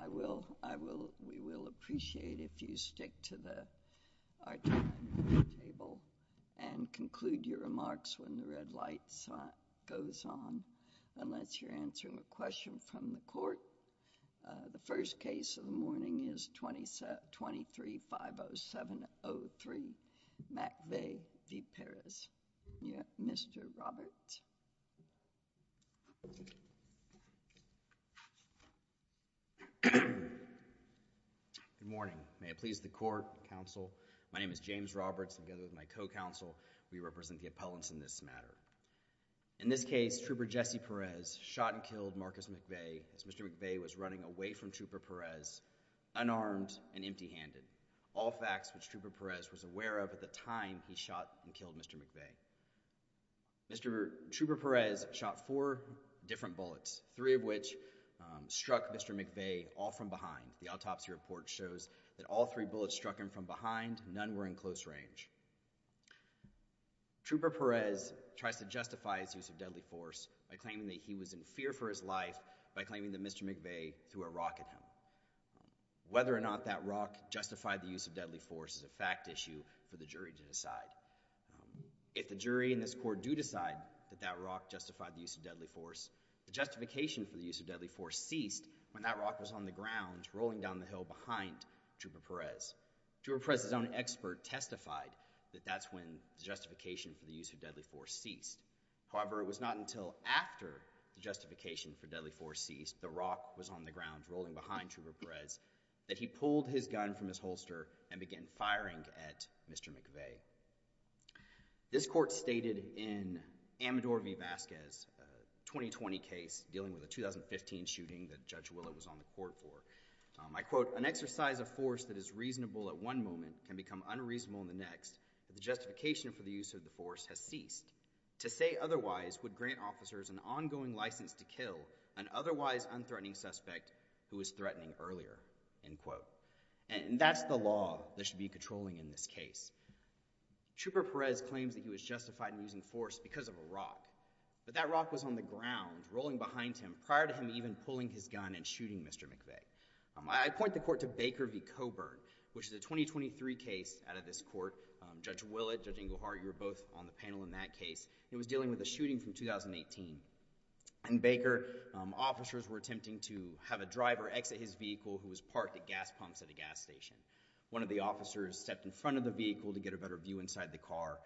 I will, I will, we will appreciate if you stick to our time at the table and conclude your remarks when the red light goes on, unless you're answering a question from the court. The first case of the morning is 23-507-03, McVae v. Perez. Yeah, Mr. Roberts. Good morning, may it please the court, counsel, my name is James Roberts, together with my co-counsel, we represent the appellants in this matter. In this case, Trooper Jesse Perez shot and killed Marcus McVae as Mr. McVae was running away from Trooper Perez, unarmed and empty handed, all facts which Trooper Perez was aware of at the time he shot and killed Mr. McVae. Mr. Trooper Perez shot four different bullets, three of which struck Mr. McVae all from behind. The autopsy report shows that all three bullets struck him from behind, none were in close range. Trooper Perez tries to justify his use of deadly force by claiming that he was in fear for his life by claiming that Mr. McVae threw a rock at him. Whether or not that rock justified the use of deadly force is a fact issue for the jury to decide. If the jury in this court do decide that that rock justified the use of deadly force, the justification for the use of deadly force ceased when that rock was on the ground rolling down the hill behind Trooper Perez. Trooper Perez's own expert testified that that's when the justification for the use of deadly force ceased. However, it was not until after the justification for deadly force ceased, the rock was on the ground at Trooper Perez, that he pulled his gun from his holster and began firing at Mr. McVae. This court stated in Amador V. Vasquez, a 2020 case dealing with a 2015 shooting that Judge Willow was on the court for, I quote, an exercise of force that is reasonable at one moment can become unreasonable in the next, but the justification for the use of the force has ceased. To say otherwise would grant officers an ongoing license to kill an otherwise unthreatening suspect who was threatening earlier, end quote. And that's the law that should be controlling in this case. Trooper Perez claims that he was justified in using force because of a rock, but that rock was on the ground rolling behind him prior to him even pulling his gun and shooting Mr. McVae. I point the court to Baker v. Coburn, which is a 2023 case out of this court. Judge Willett, Judge Inglehart, you were both on the panel in that case. It was dealing with a shooting from 2018. In Baker, officers were attempting to have a driver exit his vehicle who was parked at gas pumps at a gas station. One of the officers stepped in front of the vehicle to get a better view inside the car.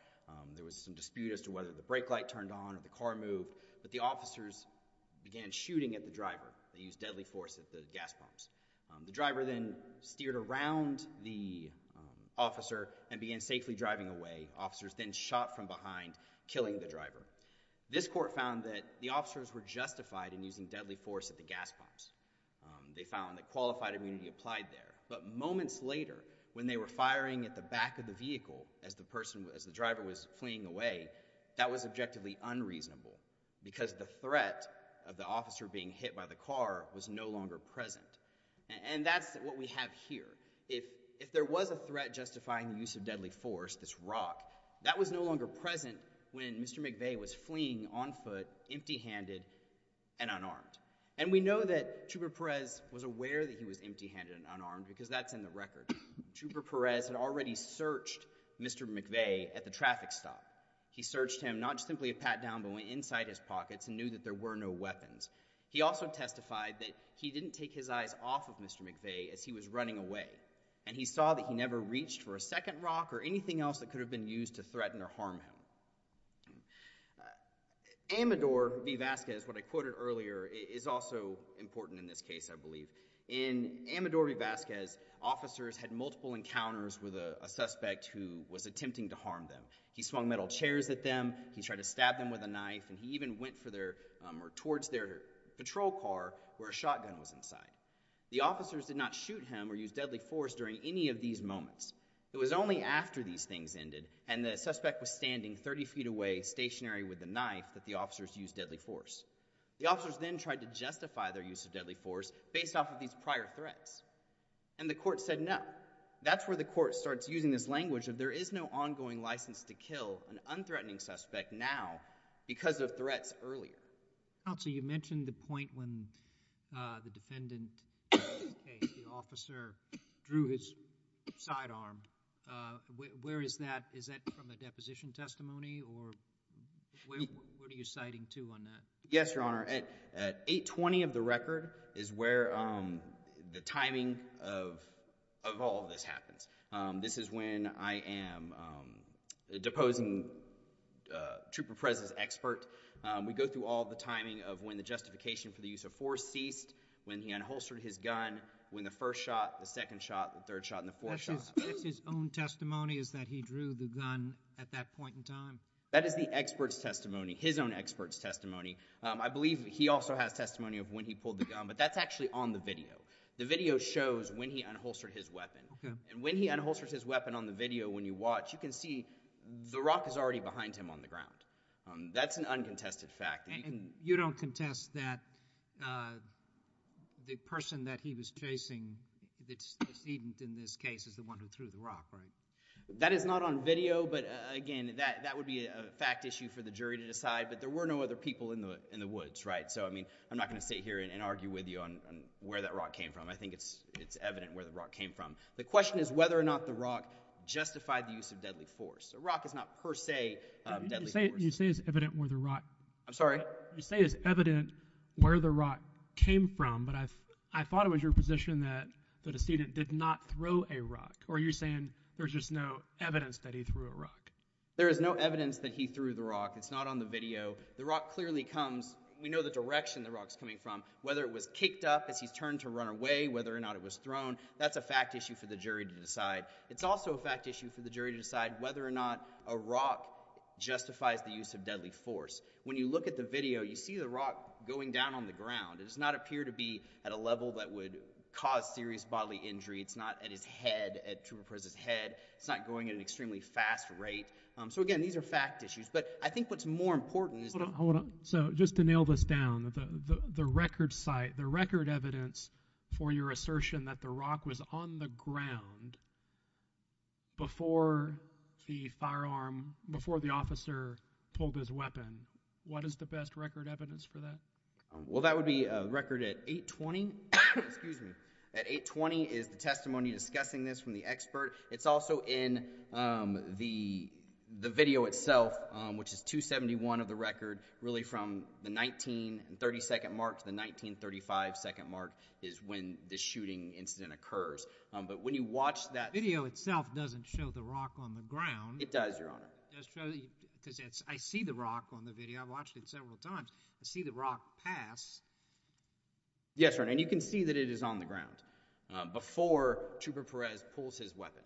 There was some dispute as to whether the brake light turned on or the car moved, but the officers began shooting at the driver. They used deadly force at the gas pumps. The driver then steered around the officer and began safely driving away. Officers then shot from behind, killing the driver. This court found that the officers were justified in using deadly force at the gas pumps. They found that qualified immunity applied there, but moments later when they were firing at the back of the vehicle as the driver was fleeing away, that was objectively unreasonable because the threat of the officer being hit by the car was no longer present. And that's what we have here. If there was a threat justifying the use of deadly force, this rock, that was no longer present when Mr. McVeigh was fleeing on foot, empty-handed, and unarmed. And we know that Trooper Perez was aware that he was empty-handed and unarmed because that's in the record. Trooper Perez had already searched Mr. McVeigh at the traffic stop. He searched him, not simply a pat-down, but went inside his pockets and knew that there were no weapons. He also testified that he didn't take his eyes off of Mr. McVeigh as he was running away and he saw that he never reached for a second rock or anything else that could have been used to threaten or harm him. Amador V. Vasquez, what I quoted earlier, is also important in this case, I believe. In Amador V. Vasquez, officers had multiple encounters with a suspect who was attempting to harm them. He swung metal chairs at them, he tried to stab them with a knife, and he even went for their patrol car where a shotgun was inside. The officers did not shoot him or use deadly force during any of these moments. It was only after these things ended and the suspect was standing 30 feet away, stationary with a knife, that the officers used deadly force. The officers then tried to justify their use of deadly force based off of these prior threats. And the court said no. That's where the court starts using this language of there is no ongoing license to kill an unthreatening suspect now because of threats earlier. Counsel, you mentioned the point when the defendant in this case, the officer, drew his sidearm. Where is that? Is that from a deposition testimony or where are you citing to on that? Yes, Your Honor. At 820 of the record is where the timing of all of this happens. This is when I am deposing Trooper Perez as expert. We go through all the timing of when the justification for the use of force ceased, when he unholstered his gun, when the first shot, the second shot, the third shot, and the fourth shot. That's his own testimony is that he drew the gun at that point in time? That is the expert's testimony, his own expert's testimony. I believe he also has testimony of when he pulled the gun, but that's actually on the video. The video shows when he unholstered his weapon. When he unholsters his weapon on the video, when you watch, you can see the rock is already behind him on the ground. That's an uncontested fact. You don't contest that the person that he was chasing, the decedent in this case, is the one who threw the rock, right? That is not on video, but again, that would be a fact issue for the jury to decide, but there were no other people in the woods, right? I'm not going to sit here and argue with you on where that rock came from. I think it's evident where the rock came from. The question is whether or not the rock justified the use of deadly force. A rock is not per se deadly force. You say it's evident where the rock came from, but I thought it was your position that the decedent did not throw a rock, or you're saying there's just no evidence that he threw a rock? There is no evidence that he threw the rock. It's not on the video. The rock clearly comes, we know the direction the rock's coming from, whether it was kicked up as he's turned to run away, whether or not it was thrown, that's a fact issue for the jury to decide. It's also a fact issue for the jury to decide whether or not a rock justifies the use of deadly force. When you look at the video, you see the rock going down on the ground. It does not appear to be at a level that would cause serious bodily injury. It's not at his head, at Trooper Perez's head. It's not going at an extremely fast rate, so again, these are fact issues, but I think what's more important is- So just to nail this down, the record site, the record evidence for your assertion that the rock was on the ground before the firearm, before the officer pulled his weapon, what is the best record evidence for that? Well that would be a record at 820, excuse me, at 820 is the testimony discussing this from the expert. It's also in the video itself, which is 271 of the record, really from the 1932nd mark to the 1935 second mark is when the shooting incident occurs, but when you watch that- The video itself doesn't show the rock on the ground. It does, your honor. It does show, because I see the rock on the video, I've watched it several times, I see the rock pass. Yes, your honor, and you can see that it is on the ground before Trooper Perez pulls his weapon.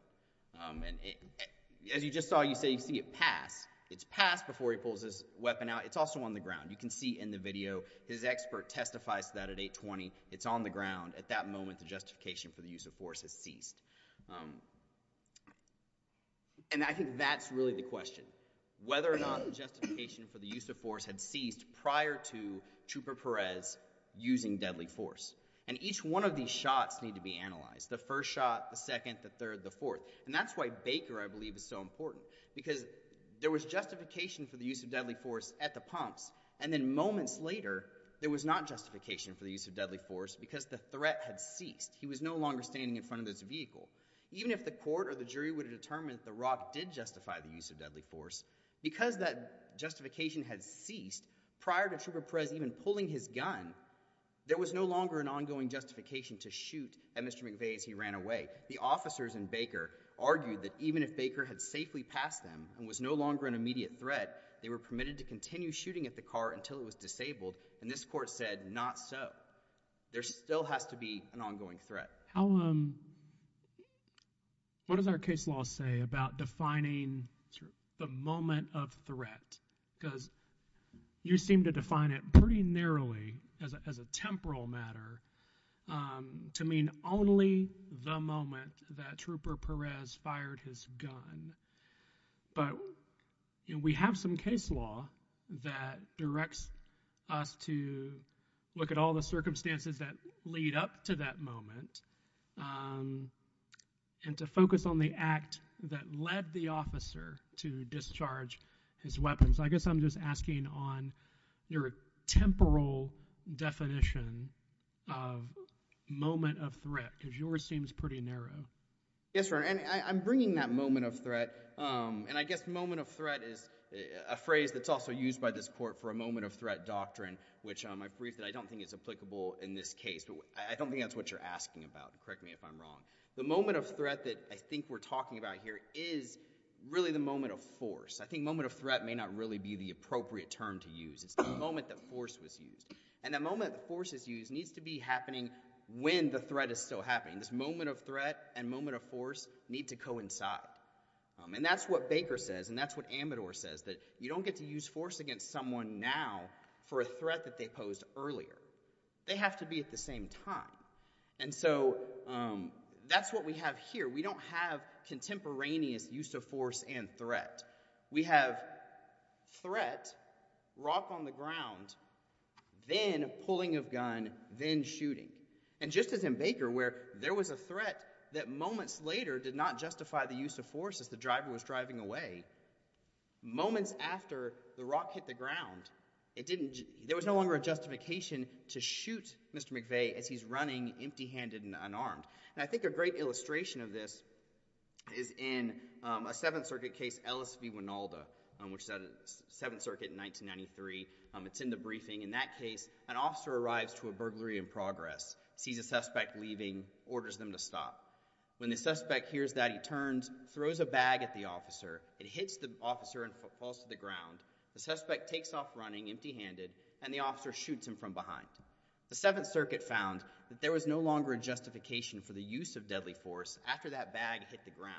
As you just saw, you say you see it pass, it's passed before he pulls his weapon out, it's also on the ground. You can see in the video, his expert testifies to that at 820, it's on the ground, at that moment the justification for the use of force has ceased. And I think that's really the question, whether or not the justification for the use of force had ceased prior to Trooper Perez using deadly force. And each one of these shots need to be analyzed. The first shot, the second, the third, the fourth. And that's why Baker, I believe, is so important, because there was justification for the use of deadly force at the pumps, and then moments later, there was not justification for the use of deadly force because the threat had ceased. He was no longer standing in front of his vehicle. Even if the court or the jury would have determined that the rock did justify the use of deadly force, because that justification had ceased prior to Trooper Perez even pulling his gun, there was no longer an ongoing justification to shoot at Mr. McVeigh as he ran away. The officers in Baker argued that even if Baker had safely passed them and was no longer an immediate threat, they were permitted to continue shooting at the car until it was disabled, and this court said, not so. There still has to be an ongoing threat. How, um, what does our case law say about defining the moment of threat, because you seem to define it pretty narrowly as a temporal matter, um, to mean only the moment that Trooper Perez fired his gun, but we have some case law that directs us to look at all the circumstances that lead up to that moment, um, and to focus on the act that led the officer to discharge his weapons. So I guess I'm just asking on your temporal definition of moment of threat, because yours seems pretty narrow. Yes, Your Honor, and I'm bringing that moment of threat, um, and I guess moment of threat is a phrase that's also used by this court for a moment of threat doctrine, which, um, I've briefed that I don't think is applicable in this case, but I don't think that's what you're asking about. Correct me if I'm wrong. The moment of threat that I think we're talking about here is really the moment of force. I think moment of threat may not really be the appropriate term to use. It's the moment that force was used, and the moment that force is used needs to be happening when the threat is still happening. This moment of threat and moment of force need to coincide, um, and that's what Baker says and that's what Amador says, that you don't get to use force against someone now for a threat that they posed earlier. They have to be at the same time, and so, um, that's what we have here. We don't have contemporaneous use of force and threat. We have threat, rock on the ground, then pulling of gun, then shooting, and just as in Baker where there was a threat that moments later did not justify the use of force as the driver was driving away, moments after the rock hit the ground, it didn't, there was no longer a justification to shoot Mr. McVeigh as he's running empty handed and unarmed, and I think a great illustration of this is in, um, a Seventh Circuit case, Ellis v. Wynalda, um, which is out of the Seventh Circuit in 1993, um, it's in the briefing, in that case an officer arrives to a burglary in progress, sees a suspect leaving, orders them to stop. When the suspect hears that, he turns, throws a bag at the officer, it hits the officer and falls to the ground, the suspect takes off running empty handed, and the officer shoots him from behind. The Seventh Circuit found that there was no longer a justification for the use of deadly force after that bag hit the ground.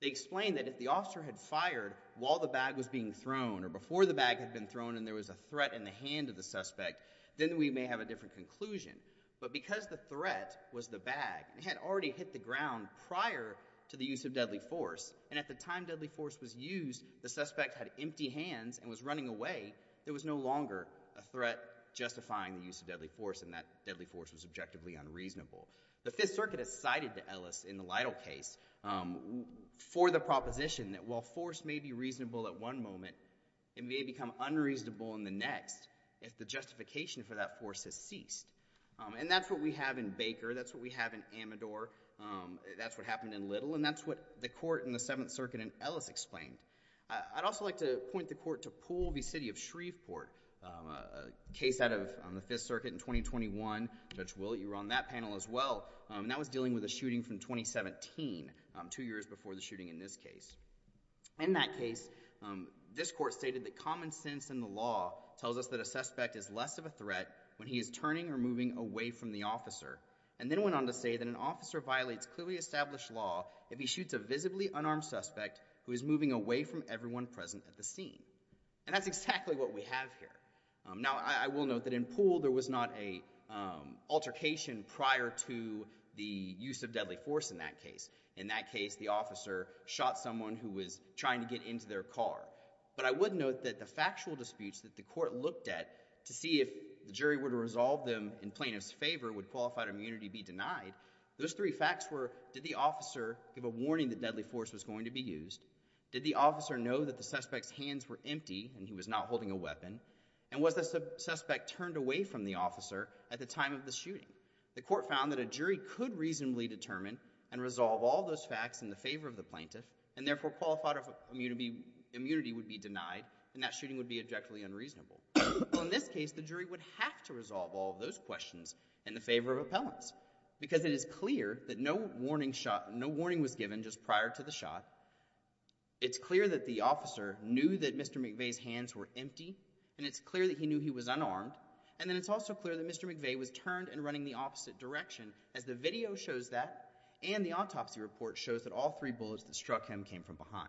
They explained that if the officer had fired while the bag was being thrown or before the bag had been thrown and there was a threat in the hand of the suspect, then we may have a different conclusion, but because the threat was the bag, it had already hit the ground prior to the use of deadly force, and at the time deadly force was used, the suspect had empty hands and was running away, there was no longer a threat justifying the use of deadly force, and that deadly force was objectively unreasonable. The Fifth Circuit has cited Ellis in the Lytle case, um, for the proposition that while force may be reasonable at one moment, it may become unreasonable in the next if the justification for that force has ceased, um, and that's what we have in Baker, that's what we have in Amador, um, that's what happened in Little, and that's what the court in the Seventh Circuit in Ellis explained. I'd also like to point the court to Poole v. City of Shreveport, um, a case out of the Fifth Circuit in 2021, Judge Willett, you were on that panel as well, um, and that was dealing with a shooting from 2017, um, two years before the shooting in this case. In that case, um, this court stated that common sense in the law tells us that a suspect is less of a threat when he is turning or moving away from the officer, and then went on to say that an officer violates clearly established law if he shoots a visibly unarmed suspect who is moving away from everyone present at the scene, and that's exactly what we have here. Um, now, I, I will note that in Poole, there was not a, um, altercation prior to the use of deadly force in that case. In that case, the officer shot someone who was trying to get into their car, but I would note that the factual disputes that the court looked at to see if the jury were to resolve them in plaintiff's favor would qualified immunity be denied, those three facts were did the officer give a warning that deadly force was going to be used, did the officer know that the suspect's hands were empty and he was not holding a weapon, and was the suspect turned away from the officer at the time of the shooting? The court found that a jury could reasonably determine and resolve all those facts in the favor of the plaintiff, and therefore qualified immunity would be denied, and that shooting would be objectively unreasonable. Well, in this case, the jury would have to resolve all of those questions in the favor of appellants, because it is clear that no warning shot, no warning was given just prior to the shot. It's clear that the officer knew that Mr. McVeigh's hands were empty, and it's clear that he knew he was unarmed, and then it's also clear that Mr. McVeigh was turned and running the opposite direction, as the video shows that, and the autopsy report shows that all three bullets that struck him came from behind.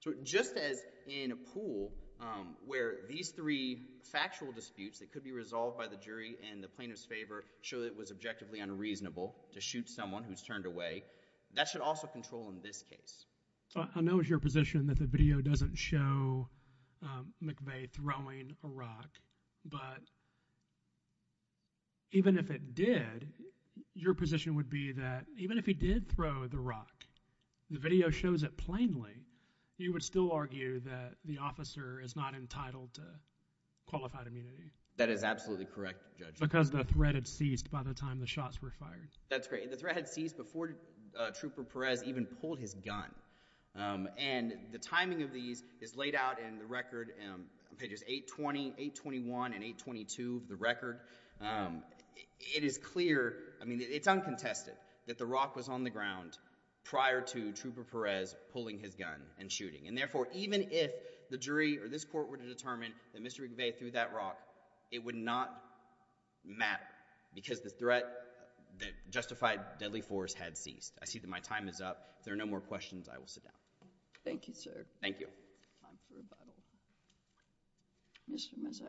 So just as in Poole, um, where these three factual disputes that could be resolved by a jury in the plaintiff's favor show that it was objectively unreasonable to shoot someone who's turned away, that should also control in this case. I know it's your position that the video doesn't show, um, McVeigh throwing a rock, but even if it did, your position would be that even if he did throw the rock, the video shows it plainly, you would still argue that the officer is not entitled to qualified immunity? That is absolutely correct, Judge. Because the threat had ceased by the time the shots were fired. That's great. The threat had ceased before Trooper Perez even pulled his gun, um, and the timing of these is laid out in the record, um, pages 820, 821, and 822 of the record, um, it is clear, I mean, it's uncontested, that the rock was on the ground prior to Trooper Perez pulling his gun and shooting, and therefore, even if the jury or this court were to determine that Mr. McVeigh threw that rock, it would not matter, because the threat, the justified deadly force had ceased. I see that my time is up. If there are no more questions, I will sit down. Thank you, sir. Thank you. Time for rebuttal. Mr. Mazzara.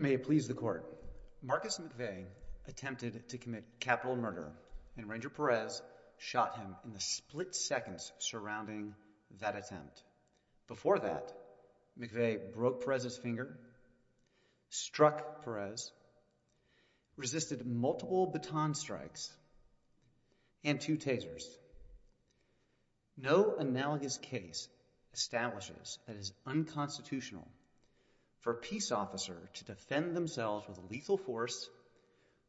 May it please the Court, Marcus McVeigh attempted to commit capital murder, and Ranger Perez shot him in the split seconds surrounding that attempt. Before that, McVeigh broke Perez's finger, struck Perez, resisted multiple baton strikes, and two tasers. No analogous case establishes that it is unconstitutional for a peace officer to defend themselves with a lethal force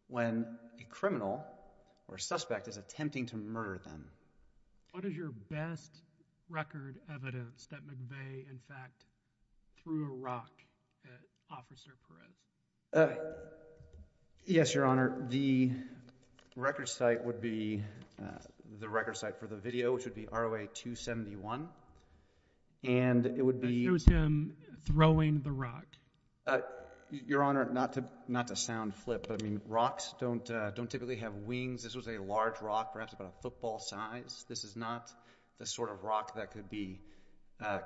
when a criminal or suspect is attempting to murder them. What is your best record evidence that McVeigh, in fact, threw a rock at Officer Perez? Yes, Your Honor. The record site would be, the record site for the video, which would be ROA 271, and it would be... It shows him throwing the rock. Your Honor, not to sound flip, but, I mean, rocks don't typically have wings. This was a large rock, perhaps about a football size. This is not the sort of rock that could be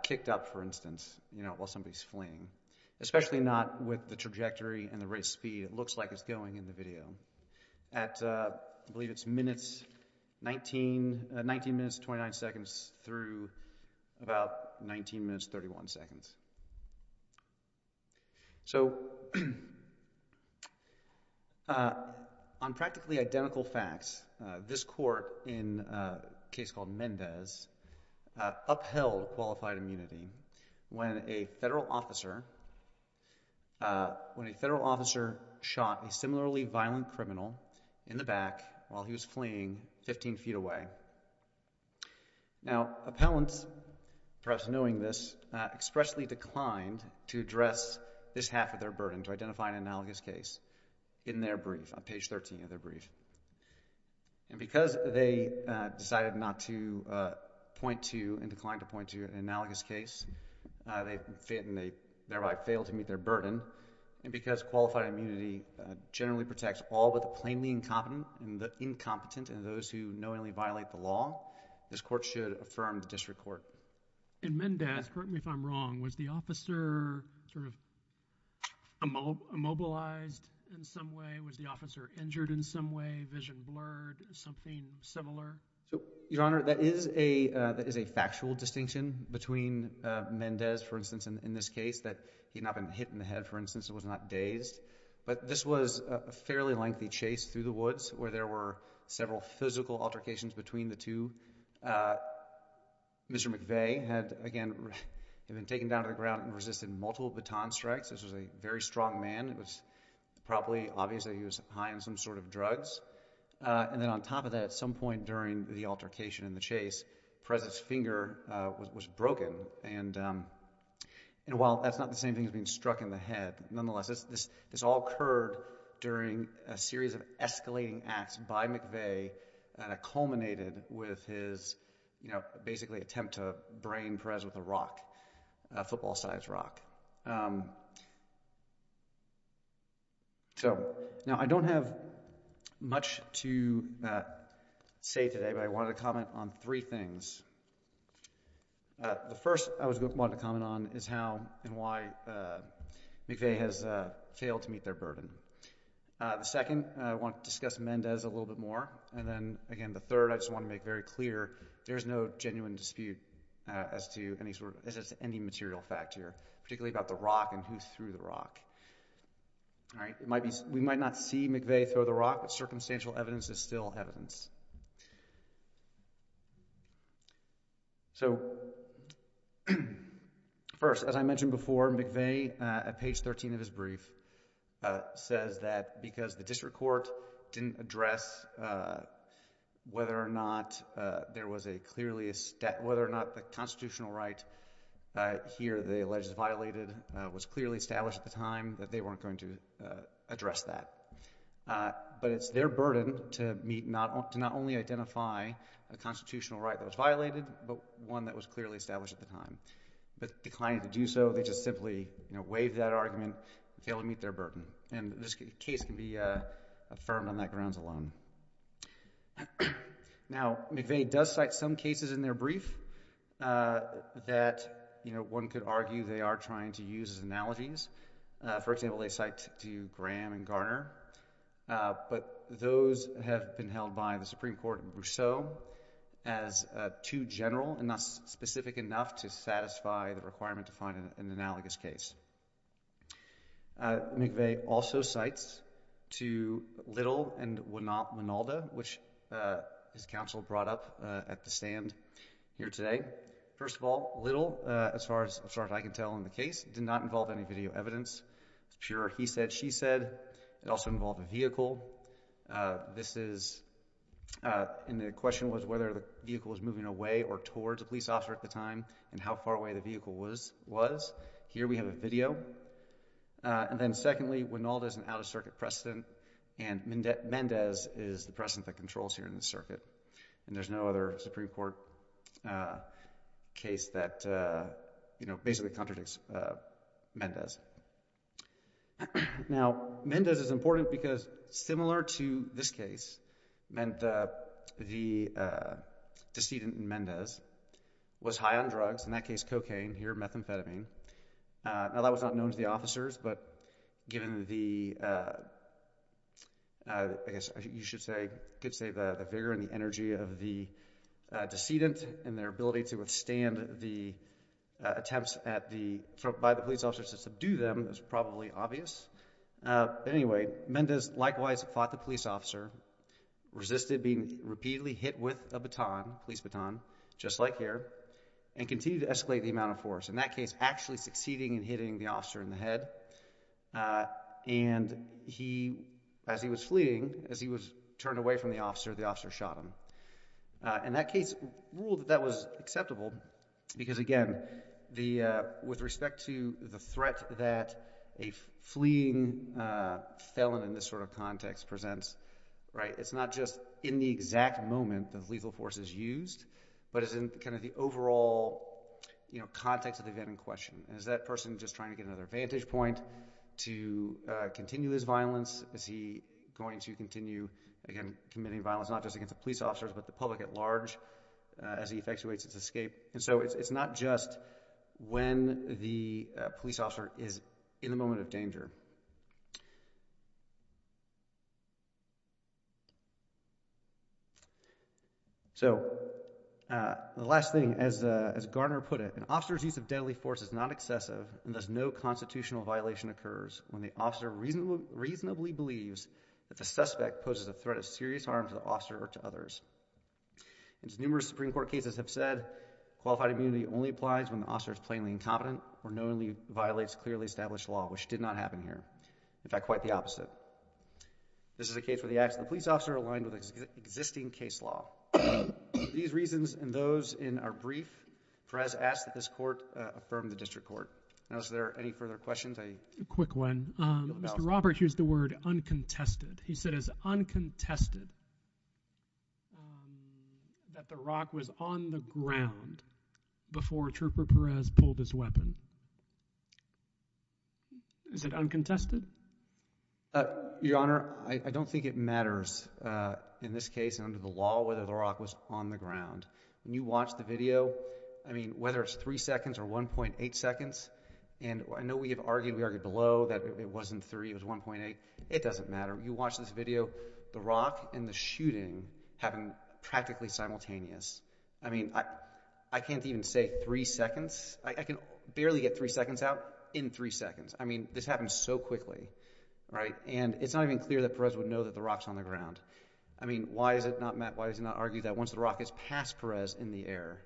kicked up, for instance, you know, while somebody is fleeing, especially not with the trajectory and the rate of speed it looks like it's going in the video. I believe it's minutes, 19 minutes, 29 seconds, through about 19 minutes, 31 seconds. So on practically identical facts, this court in a case called Mendez upheld qualified immunity when a federal officer, when a federal officer shot a similarly violent criminal in the back while he was fleeing 15 feet away. Now appellants, perhaps knowing this, expressly declined to address this half of their burden, to identify an analogous case in their brief, on page 13 of their brief. And because they decided not to point to, and declined to point to an analogous case, they thereby failed to meet their burden, and because qualified immunity generally protects all but the plainly incompetent, and the incompetent, and those who knowingly violate the law, this court should affirm the district court. In Mendez, correct me if I'm wrong, was the officer sort of immobilized in some way? Was the officer injured in some way, vision blurred, something similar? Your Honor, that is a factual distinction between Mendez, for instance, in this case, that he had not been hit in the head, for instance, was not dazed. But this was a fairly lengthy chase through the woods where there were several physical altercations between the two. Mr. McVeigh had, again, been taken down to the ground and resisted multiple baton strikes. This was a very strong man. It was probably obvious that he was high on some sort of drugs. And then on top of that, at some point during the altercation and the chase, Perez's finger was broken. And while that's not the same thing as being struck in the head, nonetheless, this all occurred during a series of escalating acts by McVeigh that culminated with his, you know, So, now I don't have much to say today, but I wanted to comment on three things. The first I wanted to comment on is how and why McVeigh has failed to meet their burden. The second, I want to discuss Mendez a little bit more. And then, again, the third, I just want to make very clear, there is no genuine dispute as to any sort of, as to any material fact here, particularly about the rock and who threw the rock. All right? It might be, we might not see McVeigh throw the rock, but circumstantial evidence is still evidence. So first, as I mentioned before, McVeigh, at page 13 of his brief, says that because the district court didn't address whether or not there was a clearly, whether or not the constitutional right here that he alleges is violated was clearly established at the time, that they weren't going to address that. But it's their burden to meet, to not only identify a constitutional right that was violated, but one that was clearly established at the time. But declining to do so, they just simply, you know, waive that argument and fail to meet their burden. And this case can be affirmed on that grounds alone. Now, McVeigh does cite some cases in their brief that, you know, one could argue they are trying to use as analogies. For example, they cite to Graham and Garner. But those have been held by the Supreme Court in Brousseau as too general and not specific enough to satisfy the requirement to find an analogous case. McVeigh also cites to Little and Wynalda, which his counsel brought up at the stand here today. First of all, Little, as far as I can tell in the case, did not involve any video evidence. It's pure he said, she said. It also involved a vehicle. This is, and the question was whether the vehicle was moving away or towards a police officer at the time and how far away the vehicle was. Here we have a video. And then secondly, Wynalda is an out-of-circuit precedent and Mendez is the precedent that controls here in the circuit. And there's no other Supreme Court case that, you know, basically contradicts Mendez. Now, Mendez is important because similar to this case, the decedent in Mendez was high on drugs. In that case, cocaine. Here, methamphetamine. Now, that was not known to the officers, but given the, I guess you should say, you could say the vigor and the energy of the decedent and their ability to withstand the attempts at the, by the police officers to subdue them is probably obvious. Anyway, Mendez likewise fought the police officer, resisted being repeatedly hit with a baton, police baton, just like here, and continued to escalate the amount of force. In that case, actually succeeding in hitting the officer in the head. And he, as he was fleeing, as he was turned away from the officer, the officer shot him. And that case ruled that that was acceptable because again, the, with respect to the threat that a fleeing felon in this sort of context presents, right, it's not just in the exact moment that lethal force is used, but it's in kind of the overall, you know, context of the event in question. Is that person just trying to get another vantage point to continue his violence? Is he going to continue, again, committing violence, not just against the police officers, but the public at large as he effectuates his escape? And so it's not just when the police officer is in the moment of danger. So the last thing, as Garner put it, an officer's use of deadly force is not excessive and thus no constitutional violation occurs when the officer reasonably believes that the suspect poses a threat of serious harm to the officer or to others. And as numerous Supreme Court cases have said, qualified immunity only applies when the officer is plainly incompetent or knowingly violates clearly established law, which did not happen here. In fact, quite the opposite. This is a case where the acts of the police officer are aligned with existing case law. These reasons and those in our brief, Perez asked that this Court affirm the District Court. Now, is there any further questions? I... A quick one. Mr. Roberts used the word uncontested. He said it's uncontested that the rock was on the ground before Trooper Perez pulled his weapon. Is it uncontested? Your Honor, I don't think it matters in this case under the law whether the rock was on the ground. When you watch the video, I mean, whether it's three seconds or 1.8 seconds, and I know we have argued, we argued below that it wasn't three, it was 1.8. It doesn't matter. You watch this video, the rock and the shooting happened practically simultaneous. I mean, I can't even say three seconds. I can barely get three seconds out in three seconds. I mean, this happened so quickly, right? And it's not even clear that Perez would know that the rock's on the ground. I mean, why is it not, Matt, why is it not argued that once the rock is past Perez in the air,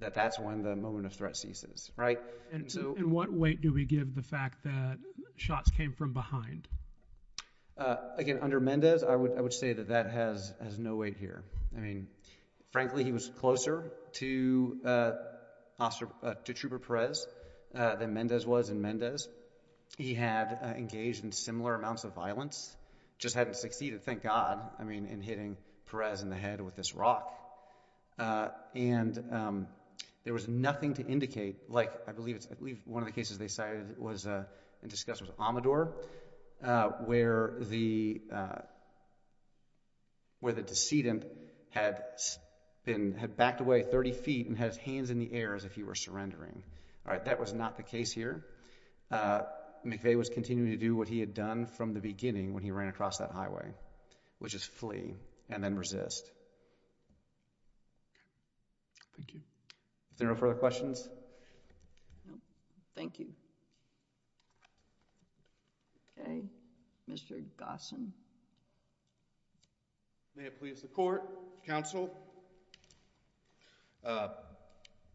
that that's when the moment of threat ceases, right? And what weight do we give the fact that shots came from behind? Again, under Mendez, I would say that that has no weight here. I mean, frankly, he was closer to Trooper Perez than Mendez was in Mendez. He had engaged in similar amounts of violence, just hadn't succeeded, thank God, I mean, in hitting Perez in the head with this rock. And there was nothing to indicate, like, I believe it's, I believe one of the cases they cited was, and discussed was Amador, where the, where the decedent had been, had backed away 30 feet and had his hands in the air as if he were surrendering. All right, that was not the case here. McVeigh was continuing to do what he had done from the beginning when he ran across that highway, which is flee and then resist. Okay. Thank you. Is there no further questions? Thank you. Okay. Mr. Gossin. May it please the court, counsel.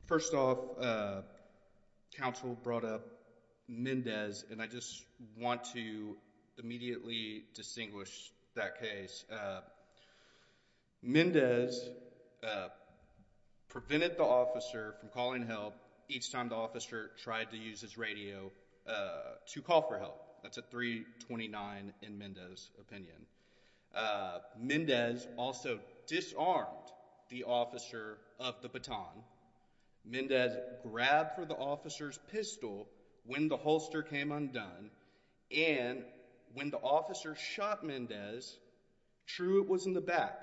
First off, counsel brought up Mendez, and I just want to immediately distinguish that case. Mendez prevented the officer from calling help each time the officer tried to use his radio to call for help. That's a 329 in Mendez's opinion. Mendez also disarmed the officer of the baton. Mendez grabbed for the officer's pistol when the holster came undone, and when the officer shot Mendez, true, it was in the back,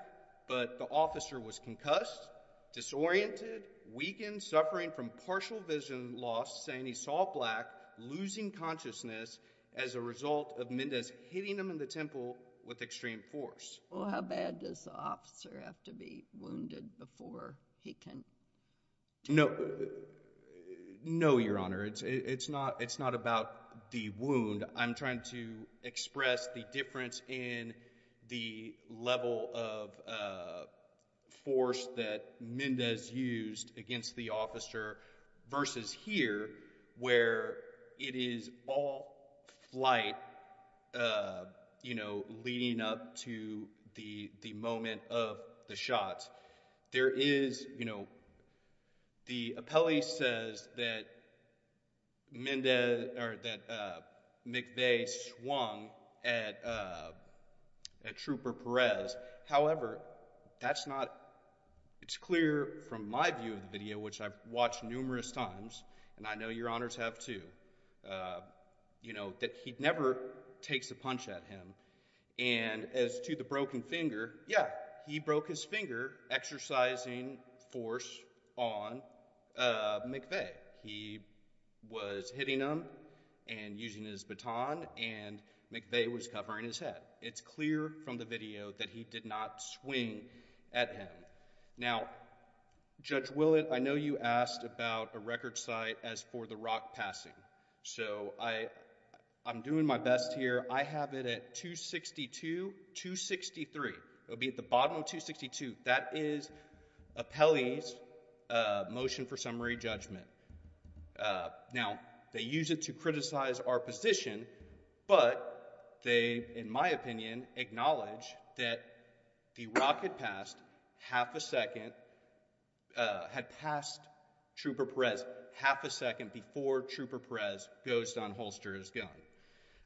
but the officer was concussed, disoriented, weakened, suffering from partial vision loss, saying he saw black, losing consciousness as a result of Mendez hitting him in the temple with extreme force. Well, how bad does the officer have to be wounded before he can... No. No, Your Honor. It's not about the wound. I'm trying to express the difference in the level of force that Mendez used against the officer, versus here, where it is all flight, you know, leading up to the moment of the shot. There is, you know, the appellee says that Mendez, or that McVeigh swung at Trooper Perez. However, that's not... it's clear from my view of the video, which I've watched numerous times, and I know Your Honors have too, you know, that he never takes a punch at him. And as to the broken finger, yeah, he broke his finger exercising force on McVeigh. He was hitting him and using his baton, and McVeigh was covering his head. It's clear from the video that he did not swing at him. Now, Judge Willett, I know you asked about a record site as for the rock passing. So I'm doing my best here. I have it at 262-263. It will be at the bottom of 262. That is appellee's motion for summary judgment. Now, they use it to criticize our position, but they, in my opinion, acknowledge that the rock had passed half a second... had passed Trooper Perez half a second before Trooper Perez goes on holster his gun.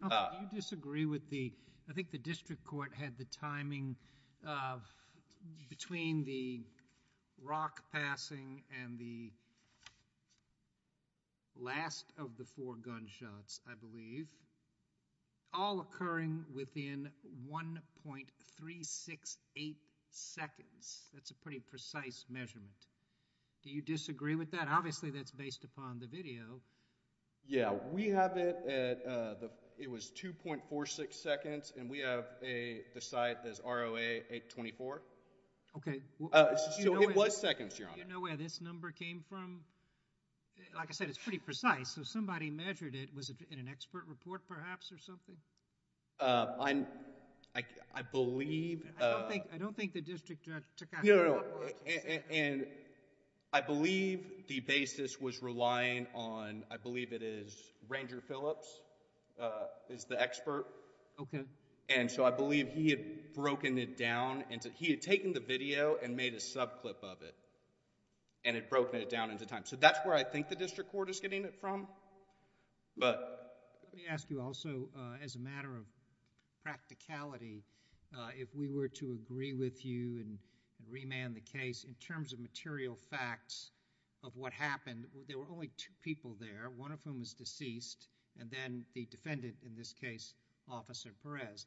Do you disagree with the... I think the district court had the timing between the rock passing and the last of the four gunshots, I believe, all occurring within 1.368 seconds. That's a pretty precise measurement. Do you disagree with that? Obviously, that's based upon the video. Yeah. We have it at... it was 2.46 seconds, and we have the site as ROA 824. Okay. So it was seconds, Your Honor. Do you know where this number came from? Like I said, it's pretty precise, so somebody measured it. Was it in an expert report, perhaps, or something? I believe... I don't think the district judge took out... No, no, no. I believe the basis was relying on, I believe it is, Ranger Phillips is the expert. Okay. And so I believe he had broken it down into... he had taken the video and made a subclip of it, and had broken it down into time. So that's where I think the district court is getting it from, but... Let me ask you also, as a matter of practicality, if we were to agree with you and remand the case in terms of material facts of what happened, there were only two people there, one of whom is deceased, and then the defendant, in this case, Officer Perez.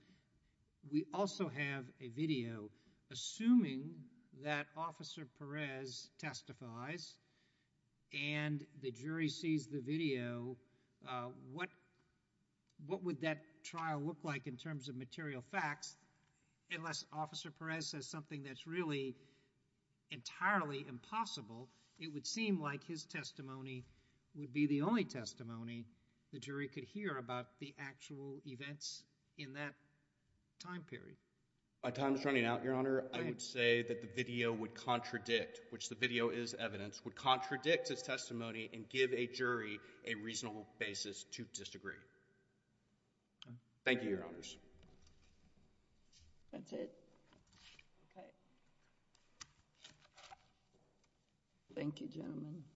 We also have a video, assuming that Officer Perez testifies and the jury sees the video, what would that trial look like in terms of material facts, unless Officer Perez says something that's really entirely impossible, it would seem like his testimony would be the only testimony the jury could hear about the actual events in that time period? By time's running out, Your Honor, I would say that the video would contradict, which the video is evidence, would contradict his testimony and give a jury a reasonable basis to disagree. Thank you, Your Honors. That's it? Okay. Thank you, gentlemen.